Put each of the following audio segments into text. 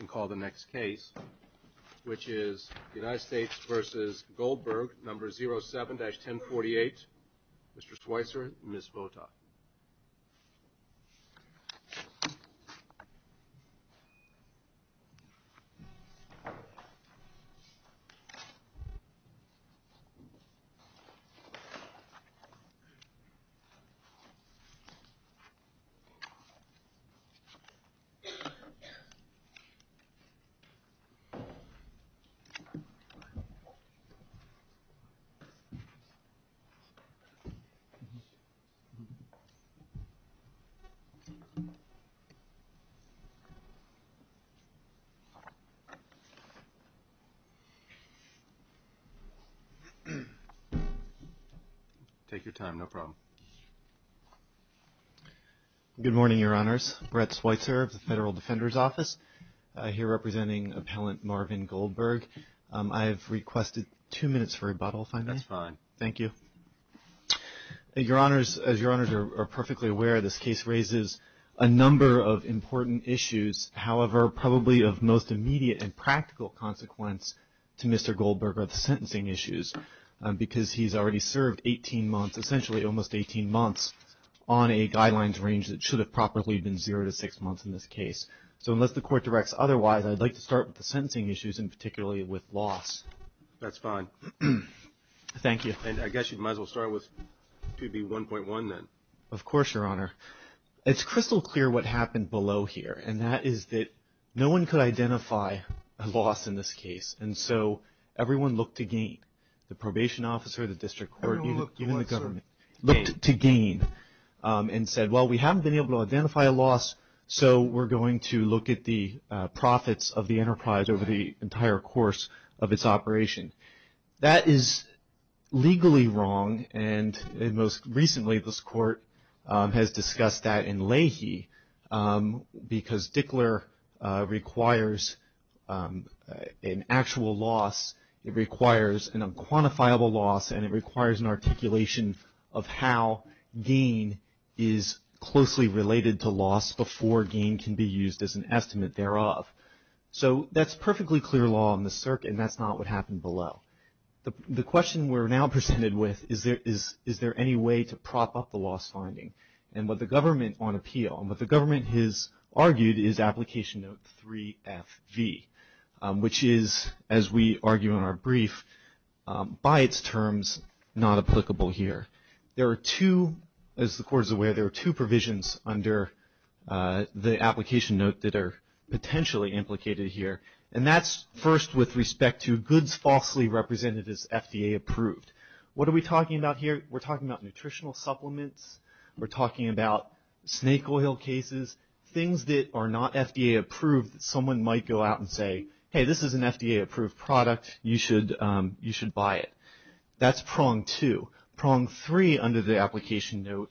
number 07-1048, Mr. Schweitzer, and Ms. Wotok. Take your time, no problem. Good morning, Your Honors. Brett Schweitzer of the Federal Defender's Office, here representing Appellant Marvin Goldberg. I have requested two minutes for rebuttal, if I may. That's fine. Thank you. Your Honors, as Your Honors are perfectly aware, this case raises a number of important issues. However, probably of most immediate and practical consequence to Mr. Goldberg are the sentencing issues, because he's already served 18 months, essentially almost 18 months, on a guidelines range that should have probably been zero to six months in this case. So unless the Court directs otherwise, I'd like to start with the sentencing issues, and particularly with loss. That's fine. Thank you. I guess you might as well start with 2B1.1 then. Of course, Your Honor. It's crystal clear what happened below here, and that is that no one could identify a loss in this case. And so everyone looked to gain, the probation officer, the district court, even the government, looked to gain and said, well, we haven't been able to identify a loss, so we're going to look at the profits of the enterprise over the entire course of its operation. That is legally wrong, and most recently this Court has discussed that in Leahy, because Dickler requires an actual loss, it requires an unquantifiable loss, and it requires an articulation of how gain is closely related to loss before gain can be used as an estimate thereof. So that's perfectly clear law on the circuit, and that's not what happened below. The question we're now presented with is, is there any way to prop up the loss finding? And what the government on appeal, and what the government has argued is Application Note 3FV, which is, as we argue in our brief, by its terms, not applicable here. There are two, as the Court is aware, there are two provisions under the Application Note that are potentially implicated here, and that's first with respect to goods falsely represented as FDA approved. What are we talking about here? We're talking about nutritional supplements. We're talking about snake oil cases, things that are not FDA approved that someone might go out and say, hey, this is an FDA approved product. You should buy it. That's prong two. Prong three under the Application Note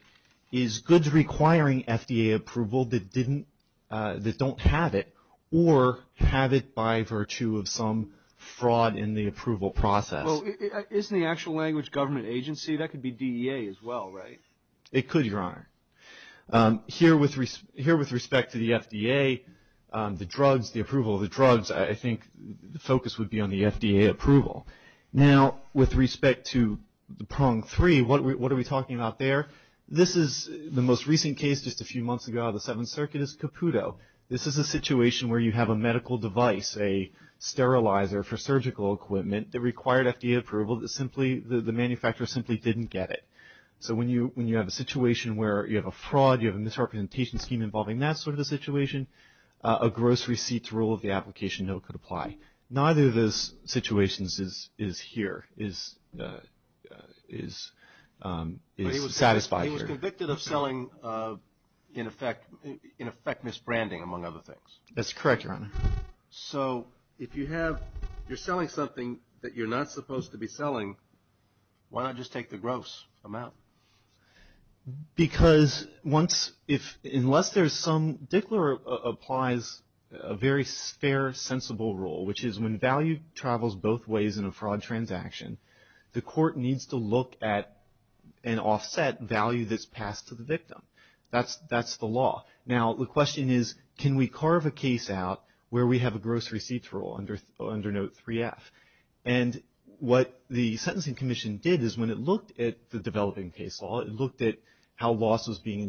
is goods requiring FDA approval that don't have it or have it by virtue of some fraud in the approval process. Well, isn't the actual language government agency? It could, Your Honor. Here with respect to the FDA, the drugs, the approval of the drugs, I think the focus would be on the FDA approval. Now, with respect to the prong three, what are we talking about there? This is the most recent case, just a few months ago out of the Seventh Circuit, is Caputo. This is a situation where you have a medical device, a sterilizer for surgical equipment, that required FDA approval, the manufacturer simply didn't get it. So when you have a situation where you have a fraud, you have a misrepresentation scheme involving that sort of a situation, a gross receipts rule of the Application Note could apply. Neither of those situations is here, is satisfied here. He was convicted of selling in effect misbranding, among other things. That's correct, Your Honor. So if you're selling something that you're not supposed to be selling, why not just take the gross amount? Because once, unless there's some, Dickler applies a very fair, sensible rule, which is when value travels both ways in a fraud transaction, the court needs to look at and offset value that's passed to the victim. That's the law. Now, the question is, can we carve a case out where we have a gross receipts rule under Note 3F? And what the Sentencing Commission did is when it looked at the developing case law, it looked at how loss was being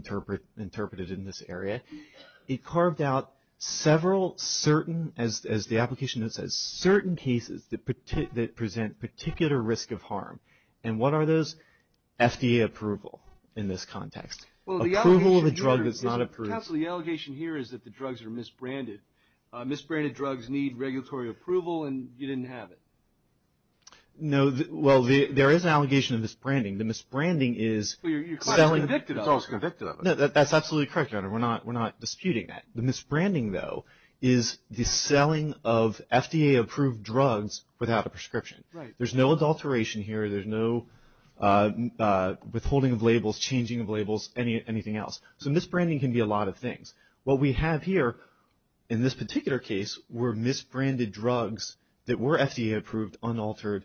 interpreted in this area, it carved out several certain, as the Application Note says, certain cases that present particular risk of harm. And what are those? FDA approval in this context. Approval of a drug that's not approved. Counsel, the allegation here is that the drugs are misbranded. Misbranded drugs need regulatory approval, and you didn't have it. No, well, there is an allegation of misbranding. The misbranding is selling. You're quite convicted of it. No, that's absolutely correct, Your Honor. We're not disputing that. The misbranding, though, is the selling of FDA-approved drugs without a prescription. Right. There's no adulteration here. There's no withholding of labels, changing of labels, anything else. So misbranding can be a lot of things. What we have here in this particular case were misbranded drugs that were FDA-approved, unaltered,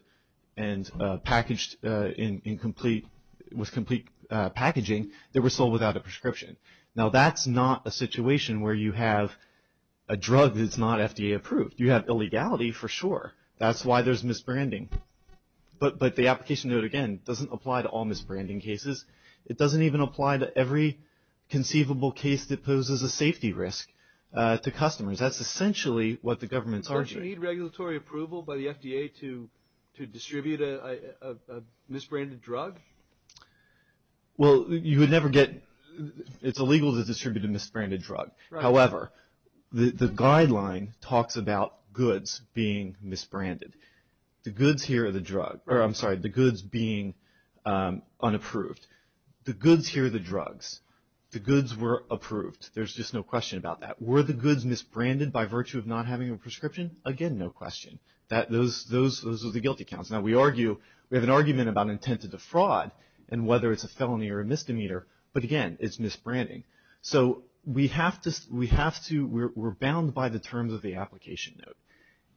and packaged with complete packaging that were sold without a prescription. Now, that's not a situation where you have a drug that's not FDA-approved. You have illegality, for sure. That's why there's misbranding. But the Application Note, again, doesn't apply to all misbranding cases. It doesn't even apply to every conceivable case that poses a safety risk to customers. That's essentially what the government's arguing. Don't you need regulatory approval by the FDA to distribute a misbranded drug? Well, you would never get – it's illegal to distribute a misbranded drug. However, the guideline talks about goods being misbranded. The goods being unapproved. The goods here are the drugs. The goods were approved. There's just no question about that. Were the goods misbranded by virtue of not having a prescription? Again, no question. Those are the guilty counts. Now, we have an argument about intent to defraud and whether it's a felony or a misdemeanor. But, again, it's misbranding. So we're bound by the terms of the Application Note.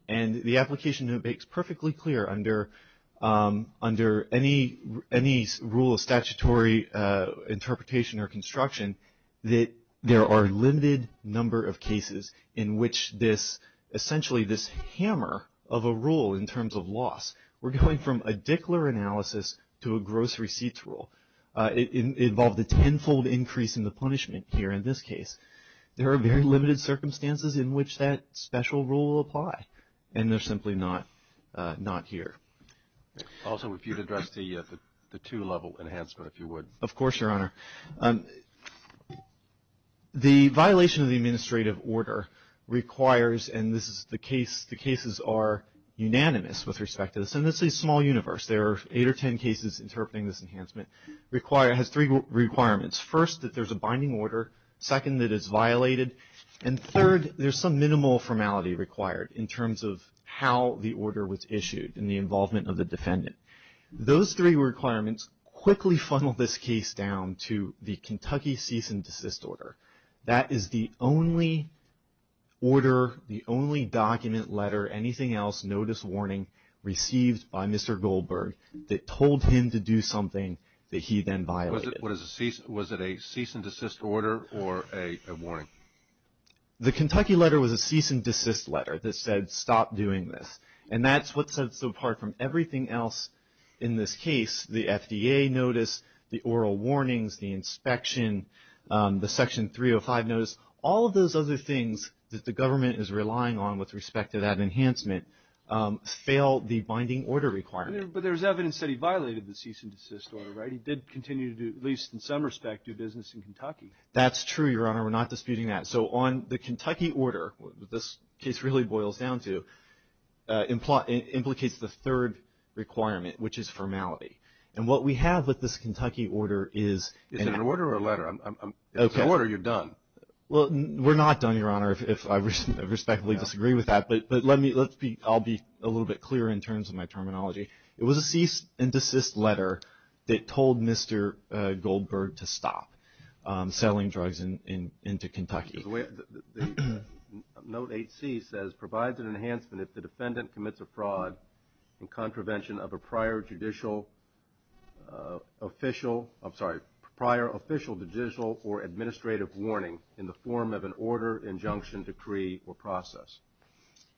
And the Application Note makes perfectly clear under any rule of statutory interpretation or construction that there are a limited number of cases in which this – essentially this hammer of a rule in terms of loss. We're going from a Dickler analysis to a gross receipts rule. It involved a tenfold increase in the punishment here in this case. There are very limited circumstances in which that special rule will apply. And they're simply not here. Also, if you'd address the two-level enhancement, if you would. Of course, Your Honor. The violation of the administrative order requires – and this is the case – the cases are unanimous with respect to this. And this is a small universe. There are eight or ten cases interpreting this enhancement. It has three requirements. First, that there's a binding order. Second, that it's violated. And third, there's some minimal formality required in terms of how the order was issued and the involvement of the defendant. Those three requirements quickly funnel this case down to the Kentucky Cease and Desist Order. That is the only order, the only document, letter, anything else, notice, warning received by Mr. Goldberg that told him to do something that he then violated. Was it a cease and desist order or a warning? The Kentucky letter was a cease and desist letter that said stop doing this. And that's what sets it apart from everything else in this case. The FDA notice, the oral warnings, the inspection, the Section 305 notice, all of those other things that the government is relying on with respect to that enhancement fail the binding order requirement. But there's evidence that he violated the cease and desist order, right? He did continue to do, at least in some respect, do business in Kentucky. That's true, Your Honor. We're not disputing that. So on the Kentucky order, this case really boils down to, implicates the third requirement, which is formality. And what we have with this Kentucky order is an act. Is it an order or a letter? It's an order. You're done. Well, we're not done, Your Honor, if I respectfully disagree with that. But let me, I'll be a little bit clearer in terms of my terminology. It was a cease and desist letter that told Mr. Goldberg to stop selling drugs into Kentucky. Note 8C says, provides an enhancement if the defendant commits a fraud in contravention of a prior judicial official, I'm sorry, prior official judicial or administrative warning in the form of an order, injunction, decree, or process.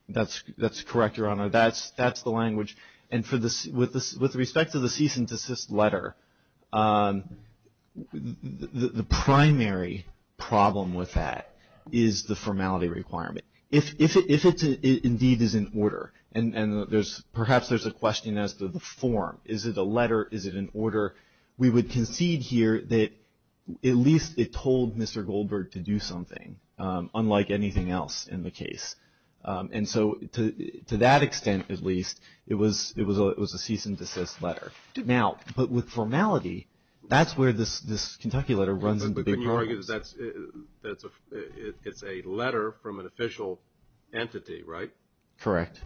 That's correct, Your Honor. That's the language. And with respect to the cease and desist letter, the primary problem with that is the formality requirement. If it indeed is an order, and perhaps there's a question as to the form. Is it a letter? Is it an order? We would concede here that at least it told Mr. Goldberg to do something, unlike anything else in the case. And so to that extent at least, it was a cease and desist letter. Now, but with formality, that's where this Kentucky letter runs into big problems. But you argue that it's a letter from an official entity, right? Correct.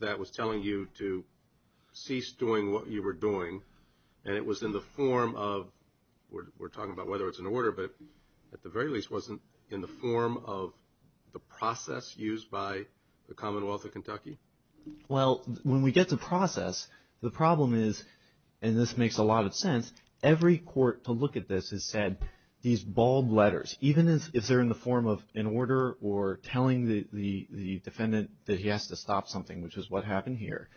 That was telling you to cease doing what you were doing. And it was in the form of, we're talking about whether it's an order, but at the very least wasn't in the form of the process used by the Commonwealth of Kentucky? Well, when we get to process, the problem is, and this makes a lot of sense, every court to look at this has said these bald letters, even if they're in the form of an order or telling the defendant that he has to stop something, which is what happened here.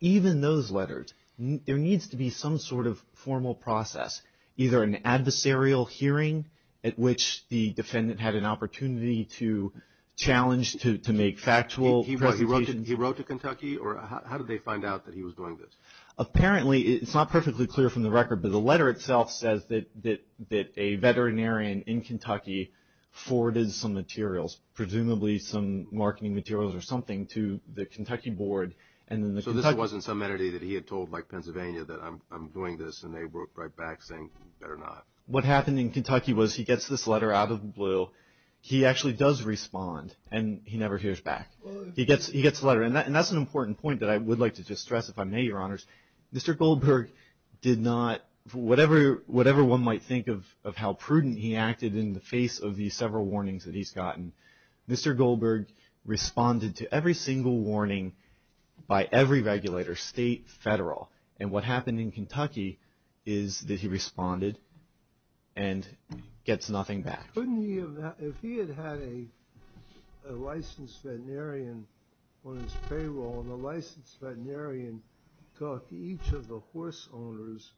Even those letters, there needs to be some sort of formal process, either an adversarial hearing at which the defendant had an opportunity to challenge, to make factual presentations. He wrote to Kentucky? Or how did they find out that he was doing this? Apparently, it's not perfectly clear from the record, but the letter itself says that a veterinarian in Kentucky forwarded some materials, presumably some marketing materials or something, to the Kentucky board. So this wasn't some entity that he had told, like Pennsylvania, that I'm doing this, and they wrote right back saying, better not. What happened in Kentucky was he gets this letter out of the blue. He actually does respond, and he never hears back. He gets the letter. And that's an important point that I would like to just stress, if I may, Your Honors. Mr. Goldberg did not, whatever one might think of how prudent he acted in the face of these several warnings that he's gotten, Mr. Goldberg responded to every single warning by every regulator, state, federal. And what happened in Kentucky is that he responded and gets nothing back. Couldn't he have, if he had had a licensed veterinarian on his payroll, and the licensed veterinarian talked to each of the horse owners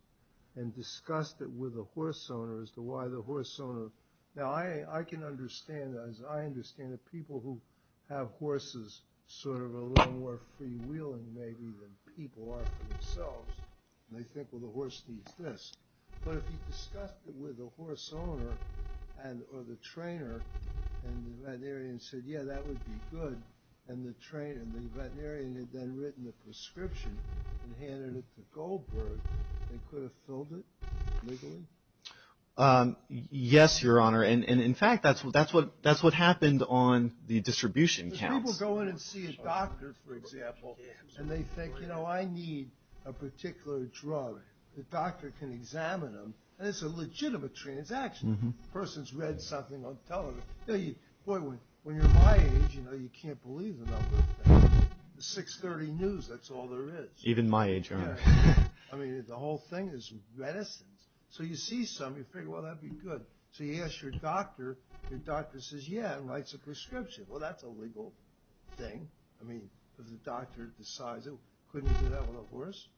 and discussed it with the horse owner as to why the horse owner. Now, I can understand, as I understand it, people who have horses sort of a little more freewheeling, maybe, than people are for themselves. They think, well, the horse needs this. But if he discussed it with the horse owner or the trainer, and the veterinarian said, yeah, that would be good, and the trainer, the veterinarian had then written the prescription and handed it to Goldberg, they could have filled it legally? Yes, Your Honor. And, in fact, that's what happened on the distribution counts. People go in and see a doctor, for example, and they think, you know, I need a particular drug. The doctor can examine them, and it's a legitimate transaction. The person's read something on television. Boy, when you're my age, you know, you can't believe the number of things. The 630 news, that's all there is. Even my age, Your Honor. I mean, the whole thing is medicines. So you see something, you figure, well, that'd be good. So you ask your doctor. Your doctor says, yeah, and writes a prescription. Well, that's a legal thing. I mean, because the doctor decides it. Couldn't you do that with a horse?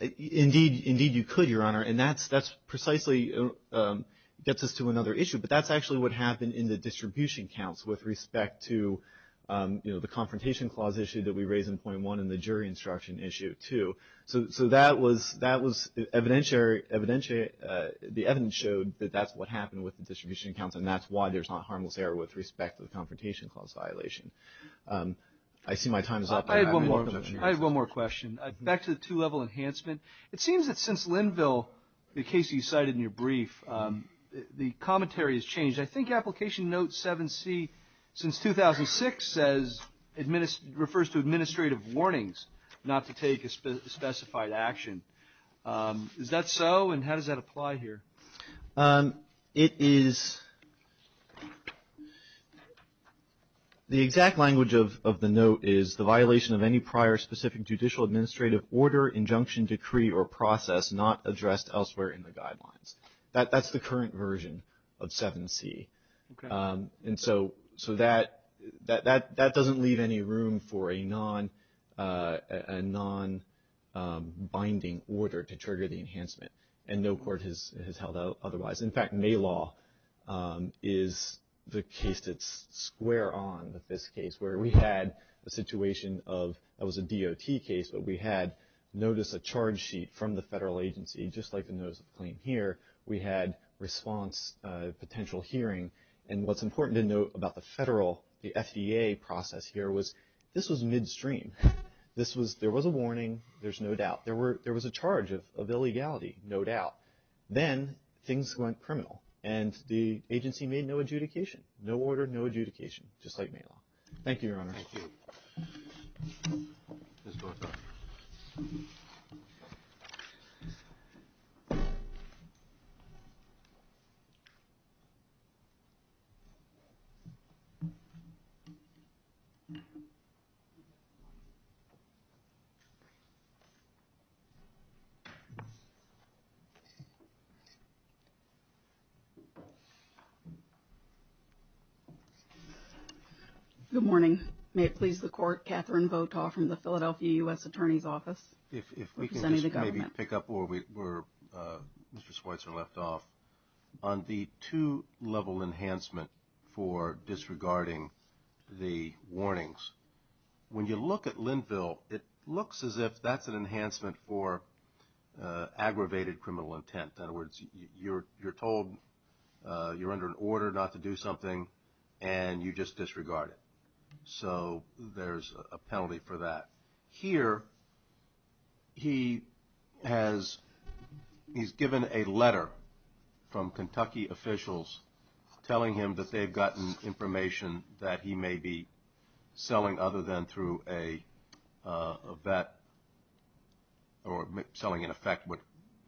Indeed, you could, Your Honor. And that precisely gets us to another issue. But that's actually what happened in the distribution counts with respect to, you know, the confrontation clause issue that we raised in point one and the jury instruction issue, too. So that was evidentiary. The evidence showed that that's what happened with the distribution counts, and that's why there's not harmless error with respect to the confrontation clause violation. I see my time is up. I have one more question. Back to the two-level enhancement. It seems that since Linville, the case you cited in your brief, the commentary has changed. I think application note 7C since 2006 says, refers to administrative warnings not to take a specified action. Is that so, and how does that apply here? It is the exact language of the note is the violation of any prior specific judicial administrative order, injunction, decree, or process not addressed elsewhere in the guidelines. That's the current version of 7C. And so that doesn't leave any room for a non-binding order to trigger the enhancement. And no court has held that otherwise. In fact, May law is the case that's square on this case where we had a situation of, that was a DOT case, but we had notice of charge sheet from the federal agency, just like the notice of claim here. We had response, potential hearing. And what's important to note about the federal, the FDA process here was this was midstream. This was, there was a warning. There's no doubt. There was a charge of illegality, no doubt. Then things went criminal and the agency made no adjudication, no order, no adjudication, just like May law. Thank you, Your Honor. Thank you. Ms. Dorothy. Good morning. May it please the court, Katherine Votaw from the Philadelphia U.S. Attorney's Office. If we can just maybe pick up where Mr. Schweitzer left off. On the two-level enhancement for disregarding the warnings, when you look at Linville, it looks as if that's an enhancement for aggravated criminal intent. In other words, you're told you're under an order not to do something and you just disregard it. So there's a penalty for that. Here he has, he's given a letter from Kentucky officials telling him that they've gotten information that he may be selling, other than through a vet or selling in effect what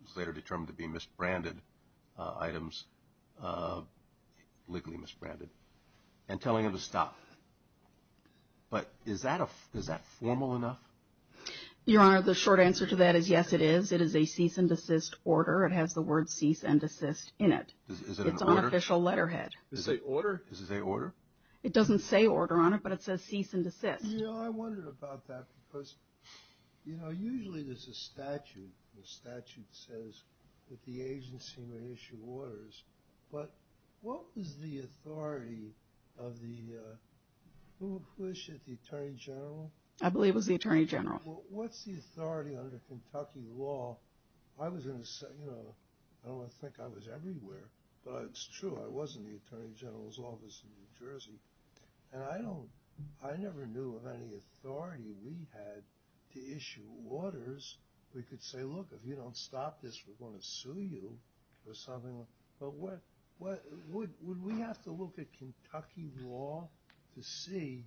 was later determined to be misbranded items, legally misbranded, and telling him to stop. But is that formal enough? Your Honor, the short answer to that is yes, it is. It is a cease and desist order. It has the word cease and desist in it. Is it an order? It's an unofficial letterhead. Is it an order? Is it an order? It doesn't say order on it, but it says cease and desist. You know, I wondered about that because, you know, usually there's a statute. The statute says that the agency may issue orders. But what was the authority of the, who was the attorney general? I believe it was the attorney general. What's the authority under Kentucky law? I was in a, you know, I don't want to think I was everywhere, but it's true, I was in the attorney general's office in New Jersey. And I don't, I never knew of any authority we had to issue orders. We could say, look, if you don't stop this, we're going to sue you or something. But what, would we have to look at Kentucky law to see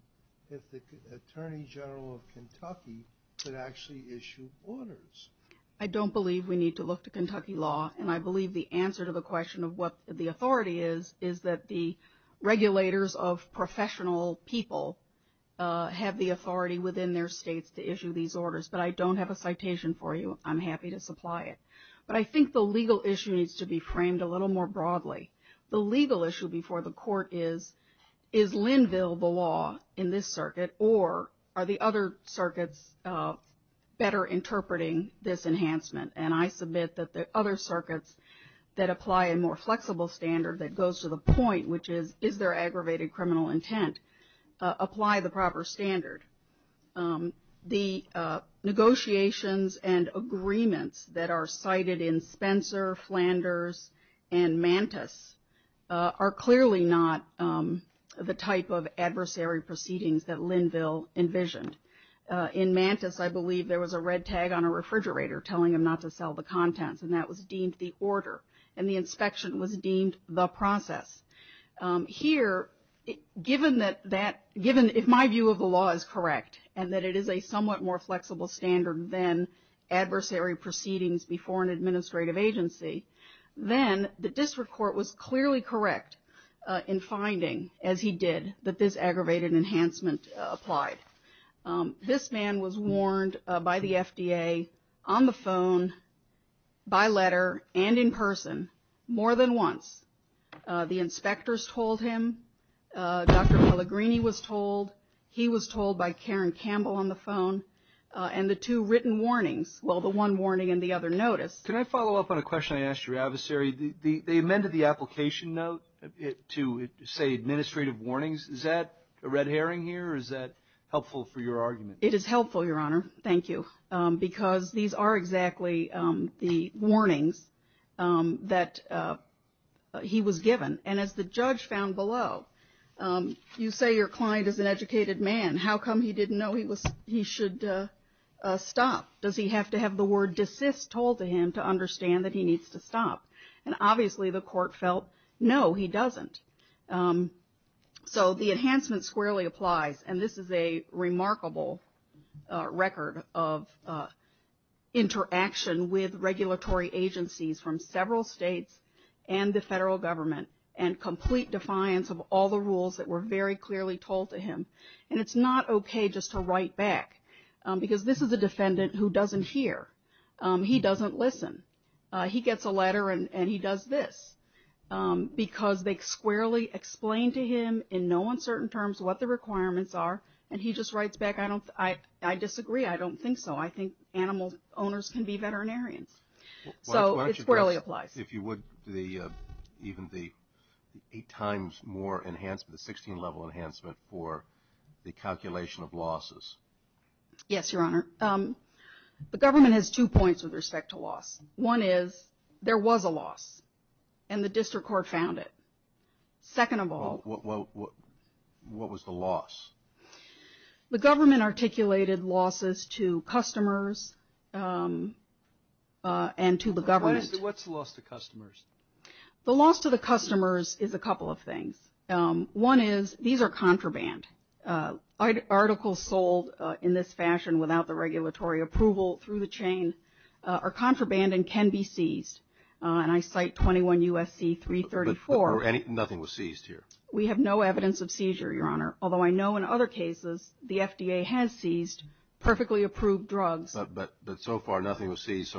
if the attorney general of Kentucky could actually issue orders? I don't believe we need to look to Kentucky law, and I believe the answer to the question of what the authority is, is that the regulators of professional people have the authority within their states to issue these orders. But I don't have a citation for you. I'm happy to supply it. But I think the legal issue needs to be framed a little more broadly. The legal issue before the court is, is Linville the law in this circuit, or are the other circuits better interpreting this enhancement? And I submit that the other circuits that apply a more flexible standard that goes to the point, which is, is there aggravated criminal intent, apply the proper standard. The negotiations and agreements that are cited in Spencer, Flanders, and Mantis, are clearly not the type of adversary proceedings that Linville envisioned. In Mantis, I believe there was a red tag on a refrigerator telling them not to sell the contents, and that was deemed the order, and the inspection was deemed the process. Here, given that, if my view of the law is correct, and that it is a somewhat more flexible standard than adversary proceedings before an administrative agency, then the district court was clearly correct in finding, as he did, that this aggravated enhancement applied. This man was warned by the FDA on the phone, by letter, and in person more than once. The inspectors told him. Dr. Pellegrini was told. He was told by Karen Campbell on the phone. And the two written warnings, well, the one warning and the other notice. Can I follow up on a question I asked your adversary? They amended the application note to say administrative warnings. Is that a red herring here, or is that helpful for your argument? It is helpful, Your Honor. Thank you. Because these are exactly the warnings that he was given. And as the judge found below, you say your client is an educated man. How come he didn't know he should stop? Does he have to have the word desist told to him to understand that he needs to stop? And obviously the court felt, no, he doesn't. So the enhancement squarely applies, and this is a remarkable record of interaction with regulatory agencies from several states and the federal government and complete defiance of all the rules that were very clearly told to him. And it's not okay just to write back, because this is a defendant who doesn't hear. He doesn't listen. He gets a letter, and he does this, because they squarely explain to him in no uncertain terms what the requirements are, and he just writes back, I disagree. I don't think so. I think animal owners can be veterinarians. So it squarely applies. Why don't you address, if you would, even the eight times more enhancement, the 16-level enhancement for the calculation of losses? Yes, Your Honor. The government has two points with respect to loss. One is there was a loss, and the district court found it. Second of all. What was the loss? The government articulated losses to customers and to the government. What's the loss to customers? The loss to the customers is a couple of things. One is these are contraband. Articles sold in this fashion without the regulatory approval through the chain are contraband and can be seized, and I cite 21 U.S.C. 334. But nothing was seized here. We have no evidence of seizure, Your Honor, although I know in other cases the FDA has seized perfectly approved drugs. But so far nothing was seized.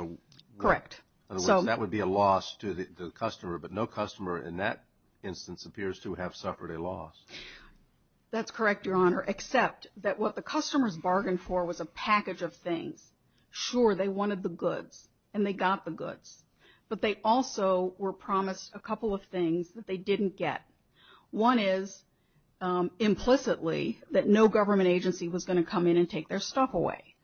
Correct. In other words, that would be a loss to the customer, but no customer in that instance appears to have suffered a loss. That's correct, Your Honor, except that what the customers bargained for was a package of things. Sure, they wanted the goods, and they got the goods, but they also were promised a couple of things that they didn't get. One is implicitly that no government agency was going to come in and take their stuff away.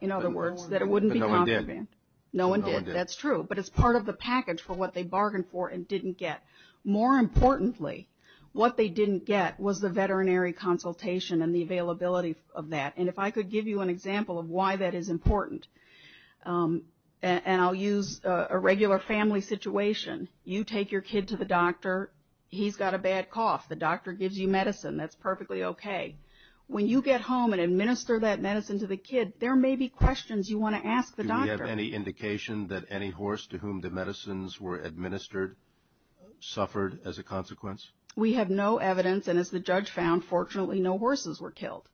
In other words, that it wouldn't be contraband. But no one did. No one did, that's true. But it's part of the package for what they bargained for and didn't get. More importantly, what they didn't get was the veterinary consultation and the availability of that. And if I could give you an example of why that is important, and I'll use a regular family situation. You take your kid to the doctor. He's got a bad cough. The doctor gives you medicine. That's perfectly okay. When you get home and administer that medicine to the kid, there may be questions you want to ask the doctor. Do we have any indication that any horse to whom the medicines were administered suffered as a consequence? We have no evidence, and as the judge found, fortunately no horses were killed.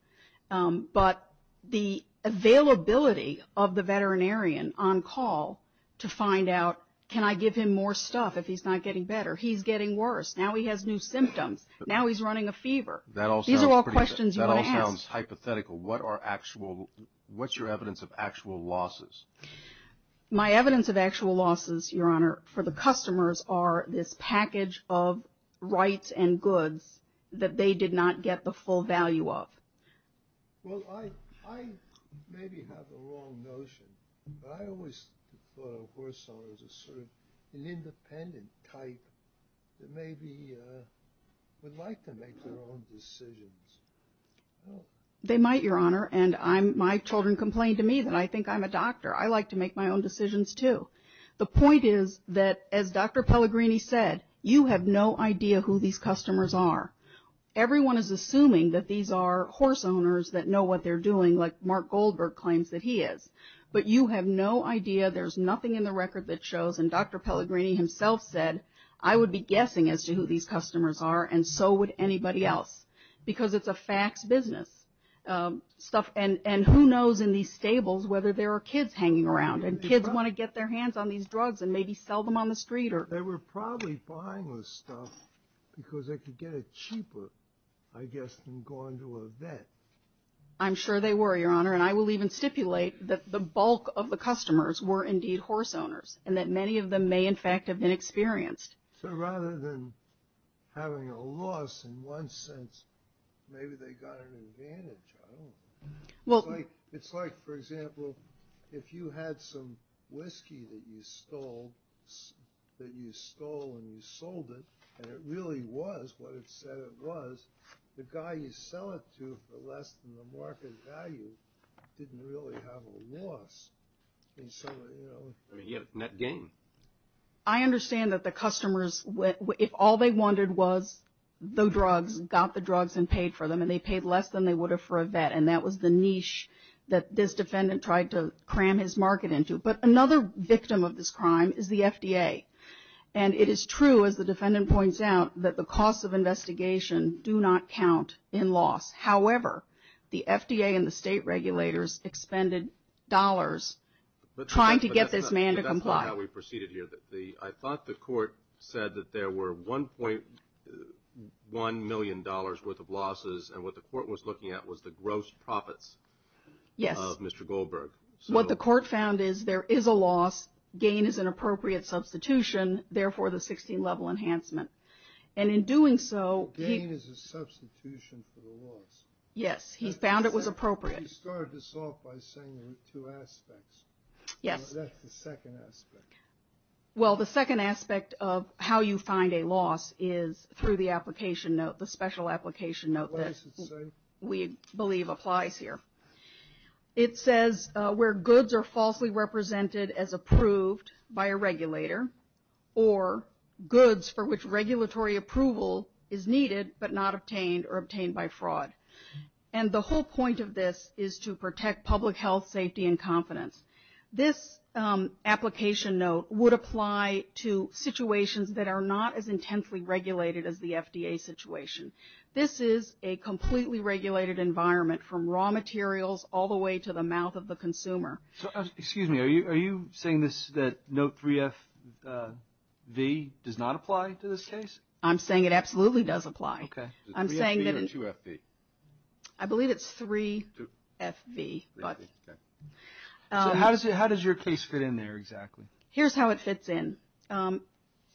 But the availability of the veterinarian on call to find out, can I give him more stuff if he's not getting better? He's getting worse. Now he has new symptoms. Now he's running a fever. These are all questions you want to ask. That all sounds hypothetical. What's your evidence of actual losses? My evidence of actual losses, Your Honor, for the customers are this package of rights and goods that they did not get the full value of. Well, I maybe have the wrong notion, but I always thought of horse owners as sort of an independent type that maybe would like to make their own decisions. They might, Your Honor. And my children complain to me that I think I'm a doctor. I like to make my own decisions, too. The point is that, as Dr. Pellegrini said, you have no idea who these customers are. Everyone is assuming that these are horse owners that know what they're doing, like Mark Goldberg claims that he is. But you have no idea. There's nothing in the record that shows. And Dr. Pellegrini himself said, I would be guessing as to who these customers are, and so would anybody else. Because it's a fax business. And who knows in these stables whether there are kids hanging around, and kids want to get their hands on these drugs and maybe sell them on the street. They were probably buying this stuff because they could get it cheaper, I guess, than going to a vet. I'm sure they were, Your Honor. And I will even stipulate that the bulk of the customers were indeed horse owners and that many of them may, in fact, have been experienced. So rather than having a loss in one sense, maybe they got an advantage. I don't know. It's like, for example, if you had some whiskey that you stole and you sold it, and it really was what it said it was, the guy you sell it to for less than the market value didn't really have a loss. I mean, he had net gain. I understand that the customers, if all they wanted was the drugs, got the drugs and paid for them, and they paid less than they would have for a vet, and that was the niche that this defendant tried to cram his market into. But another victim of this crime is the FDA. And it is true, as the defendant points out, that the costs of investigation do not count in loss. However, the FDA and the state regulators expended dollars trying to get this man to comply. I thought the court said that there were $1.1 million worth of losses, and what the court was looking at was the gross profits of Mr. Goldberg. Yes. What the court found is there is a loss. Gain is an appropriate substitution, therefore the 16-level enhancement. And in doing so, he… Gain is a substitution for the loss. Yes. He found it was appropriate. He started this off by saying there were two aspects. Yes. That's the second aspect. Well, the second aspect of how you find a loss is through the application note, the special application note that we believe applies here. It says where goods are falsely represented as approved by a regulator or goods for which regulatory approval is needed but not obtained or obtained by fraud. And the whole point of this is to protect public health, safety, and confidence. This application note would apply to situations that are not as intensely regulated as the FDA situation. This is a completely regulated environment from raw materials all the way to the mouth of the consumer. Excuse me. Are you saying this, that note 3FV does not apply to this case? I'm saying it absolutely does apply. Okay. Is it 3FV or 2FV? I believe it's 3FV. Okay. So how does your case fit in there exactly? Here's how it fits in.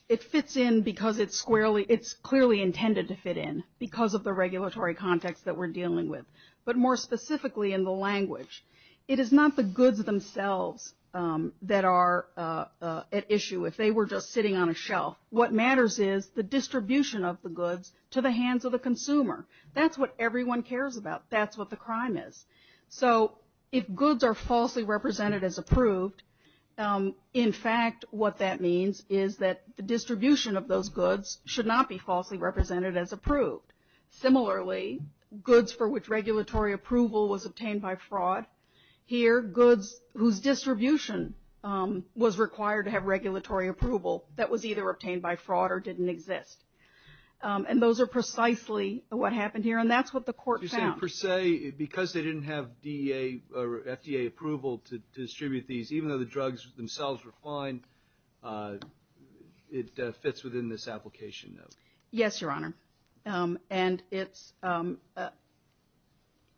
It fits in because it's clearly intended to fit in because of the regulatory context that we're dealing with. But more specifically in the language, it is not the goods themselves that are at issue. If they were just sitting on a shelf, what matters is the distribution of the goods to the hands of the consumer. That's what everyone cares about. That's what the crime is. So if goods are falsely represented as approved, in fact, what that means is that the distribution of those goods should not be falsely represented as approved. Similarly, goods for which regulatory approval was obtained by fraud, here, goods whose distribution was required to have regulatory approval that was either obtained by fraud or didn't exist. And those are precisely what happened here, and that's what the court found. So per se, because they didn't have DEA or FDA approval to distribute these, even though the drugs themselves were fine, it fits within this application, though? Yes, Your Honor. And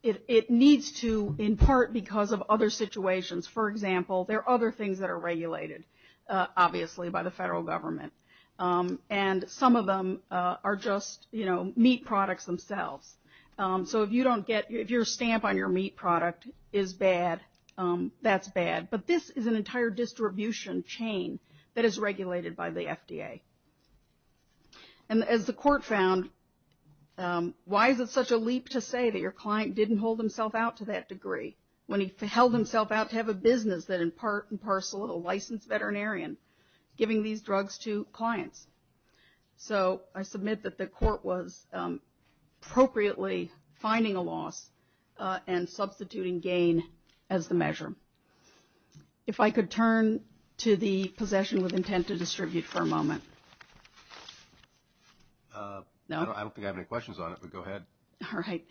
it needs to in part because of other situations. For example, there are other things that are regulated, obviously, by the federal government. And some of them are just meat products themselves. So if your stamp on your meat product is bad, that's bad. But this is an entire distribution chain that is regulated by the FDA. And as the court found, why is it such a leap to say that your client didn't hold himself out to that degree when he held himself out to have a business that in part and parcel of a licensed veterinarian giving these drugs to clients? So I submit that the court was appropriately finding a loss and substituting gain as the measure. If I could turn to the possession with intent to distribute for a moment. I don't think I have any questions on it, but go ahead. All right.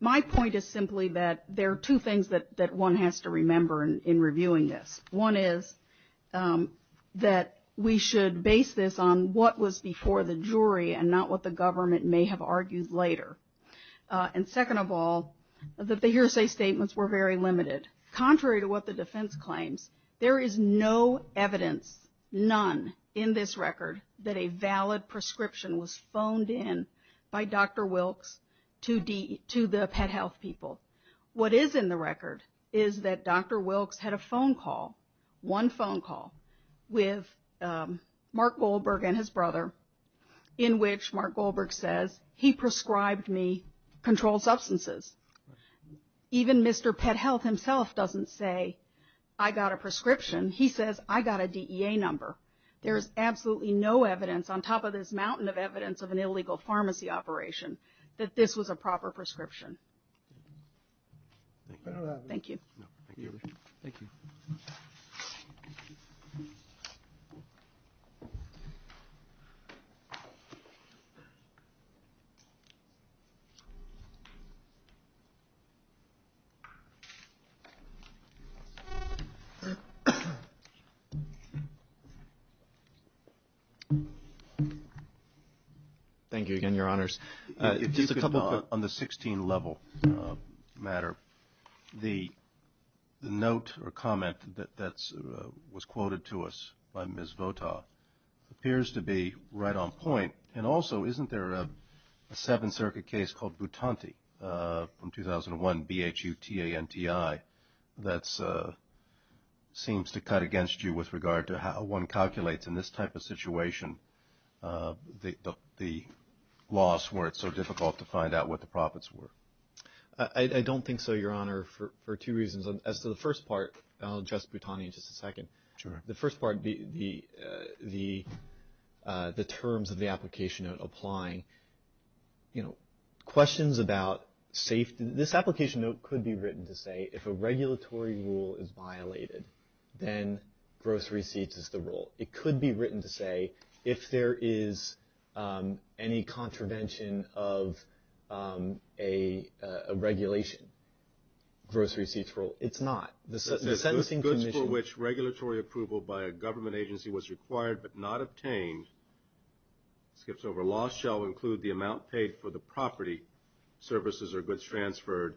My point is simply that there are two things that one has to remember in reviewing this. One is that we should base this on what was before the jury and not what the government may have argued later. And second of all, that the hearsay statements were very limited. Contrary to what the defense claims, there is no evidence, none in this record, that a valid prescription was phoned in by Dr. Wilkes to the pet health people. What is in the record is that Dr. Wilkes had a phone call, one phone call, with Mark Goldberg and his brother in which Mark Goldberg says, he prescribed me controlled substances. Even Mr. Pet Health himself doesn't say, I got a prescription. He says, I got a DEA number. There is absolutely no evidence on top of this mountain of evidence of an illegal pharmacy operation that this was a proper prescription. Thank you. Thank you. Thank you. Thank you again, Your Honors. On the 16 level matter, the note or comment that was quoted to us by Ms. Votaw appears to be right on point. And also, isn't there a Seventh Circuit case called Butante from 2001, B-H-U-T-A-N-T-I, that seems to cut against you with regard to how one calculates in this type of situation the loss where it's so difficult to find out what the profits were. I don't think so, Your Honor, for two reasons. As to the first part, I'll address Butante in just a second. The first part, the terms of the application note applying, you know, questions about safety. This application note could be written to say, if a regulatory rule is violated, then gross receipts is the rule. It could be written to say, if there is any contravention of a regulation, gross receipts rule. It's not. It says, goods for which regulatory approval by a government agency was required but not obtained, skips over, loss shall include the amount paid for the property, services, or goods transferred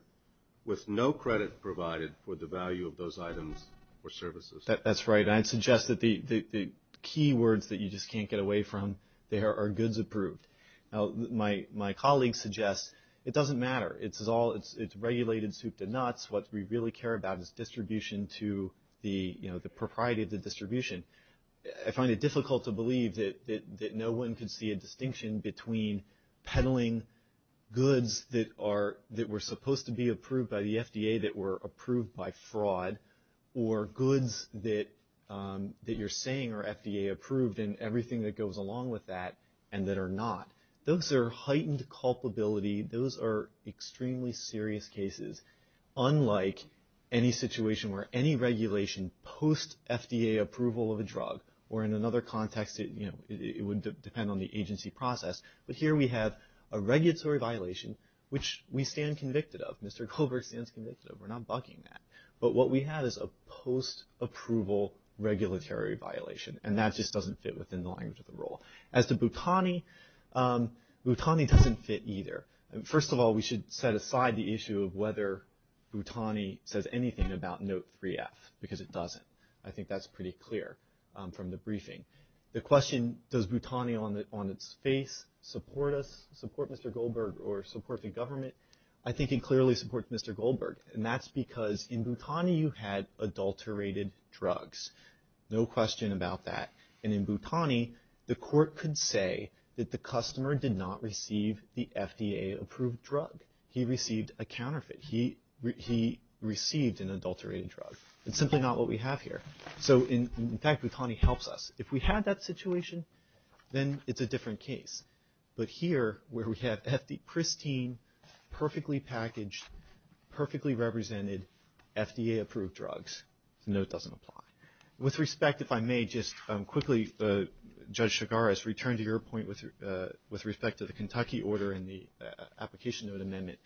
with no credit provided for the value of those items or services. That's right. And I'd suggest that the key words that you just can't get away from there are goods approved. Now, my colleague suggests it doesn't matter. It's regulated soup to nuts. What we really care about is distribution to the, you know, the propriety of the distribution. I find it difficult to believe that no one can see a distinction between peddling goods that were supposed to be approved by the FDA that were approved by fraud or goods that you're saying are FDA approved and everything that goes along with that and that are not. Those are heightened culpability. Those are extremely serious cases, unlike any situation where any regulation post FDA approval of a drug or in another context, you know, it would depend on the agency process. But here we have a regulatory violation, which we stand convicted of. Mr. Goldberg stands convicted of. We're not bucking that. But what we have is a post approval regulatory violation, and that just doesn't fit within the language of the rule. As to Bhutani, Bhutani doesn't fit either. First of all, we should set aside the issue of whether Bhutani says anything about Note 3F, because it doesn't. I think that's pretty clear from the briefing. The question, does Bhutani on its face support us, support Mr. Goldberg or support the government? I think it clearly supports Mr. Goldberg. And that's because in Bhutani you had adulterated drugs. No question about that. And in Bhutani, the court could say that the customer did not receive the FDA approved drug. He received a counterfeit. He received an adulterated drug. It's simply not what we have here. So, in fact, Bhutani helps us. If we had that situation, then it's a different case. But here, where we have pristine, perfectly packaged, perfectly represented, FDA approved drugs, the note doesn't apply. With respect, if I may just quickly, Judge Chigares, return to your point with respect to the Kentucky order and the application note amendment.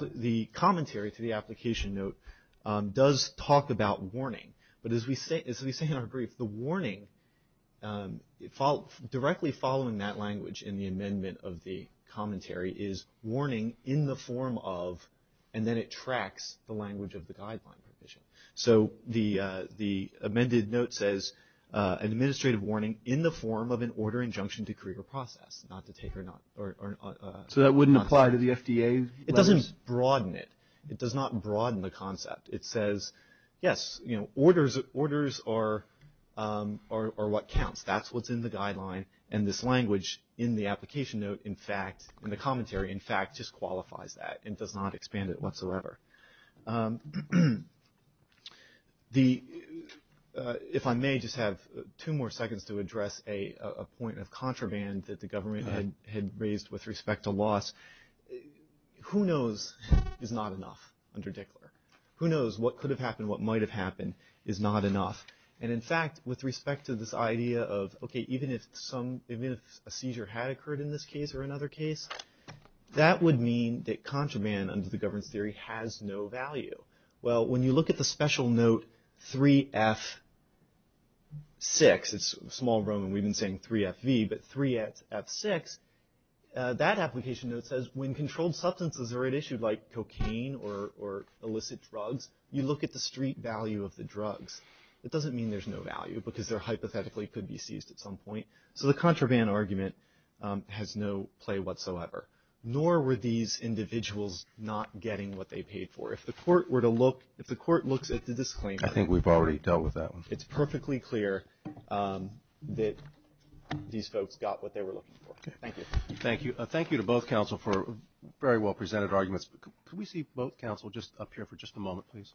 The commentary to the application note does talk about warning. But as we say in our brief, the warning, directly following that language in the amendment of the commentary, is warning in the form of, and then it tracks the language of the guideline provision. So the amended note says, administrative warning in the form of an order, injunction, decree, or process. Not to take or not. So that wouldn't apply to the FDA? It doesn't broaden it. It does not broaden the concept. It says, yes, orders are what counts. That's what's in the guideline. And this language in the application note, in fact, in the commentary, in fact, just qualifies that. It does not expand it whatsoever. If I may, just have two more seconds to address a point of contraband that the government had raised with respect to loss. Who knows is not enough under Dickler. Who knows what could have happened, what might have happened is not enough. And, in fact, with respect to this idea of, okay, even if a seizure had occurred in this case or another case, that would mean that contraband under the governance theory has no value. Well, when you look at the special note 3F6, it's small Roman. We've been saying 3FV, but 3F6, that application note says when controlled substances are at issue like cocaine or illicit drugs, you look at the street value of the drugs. It doesn't mean there's no value because they're hypothetically could be seized at some point. So the contraband argument has no play whatsoever. Nor were these individuals not getting what they paid for. If the court were to look, if the court looks at the disclaimer. I think we've already dealt with that one. It's perfectly clear that these folks got what they were looking for. Thank you. Thank you. Thank you to both counsel for very well presented arguments. Can we see both counsel just up here for just a moment, please?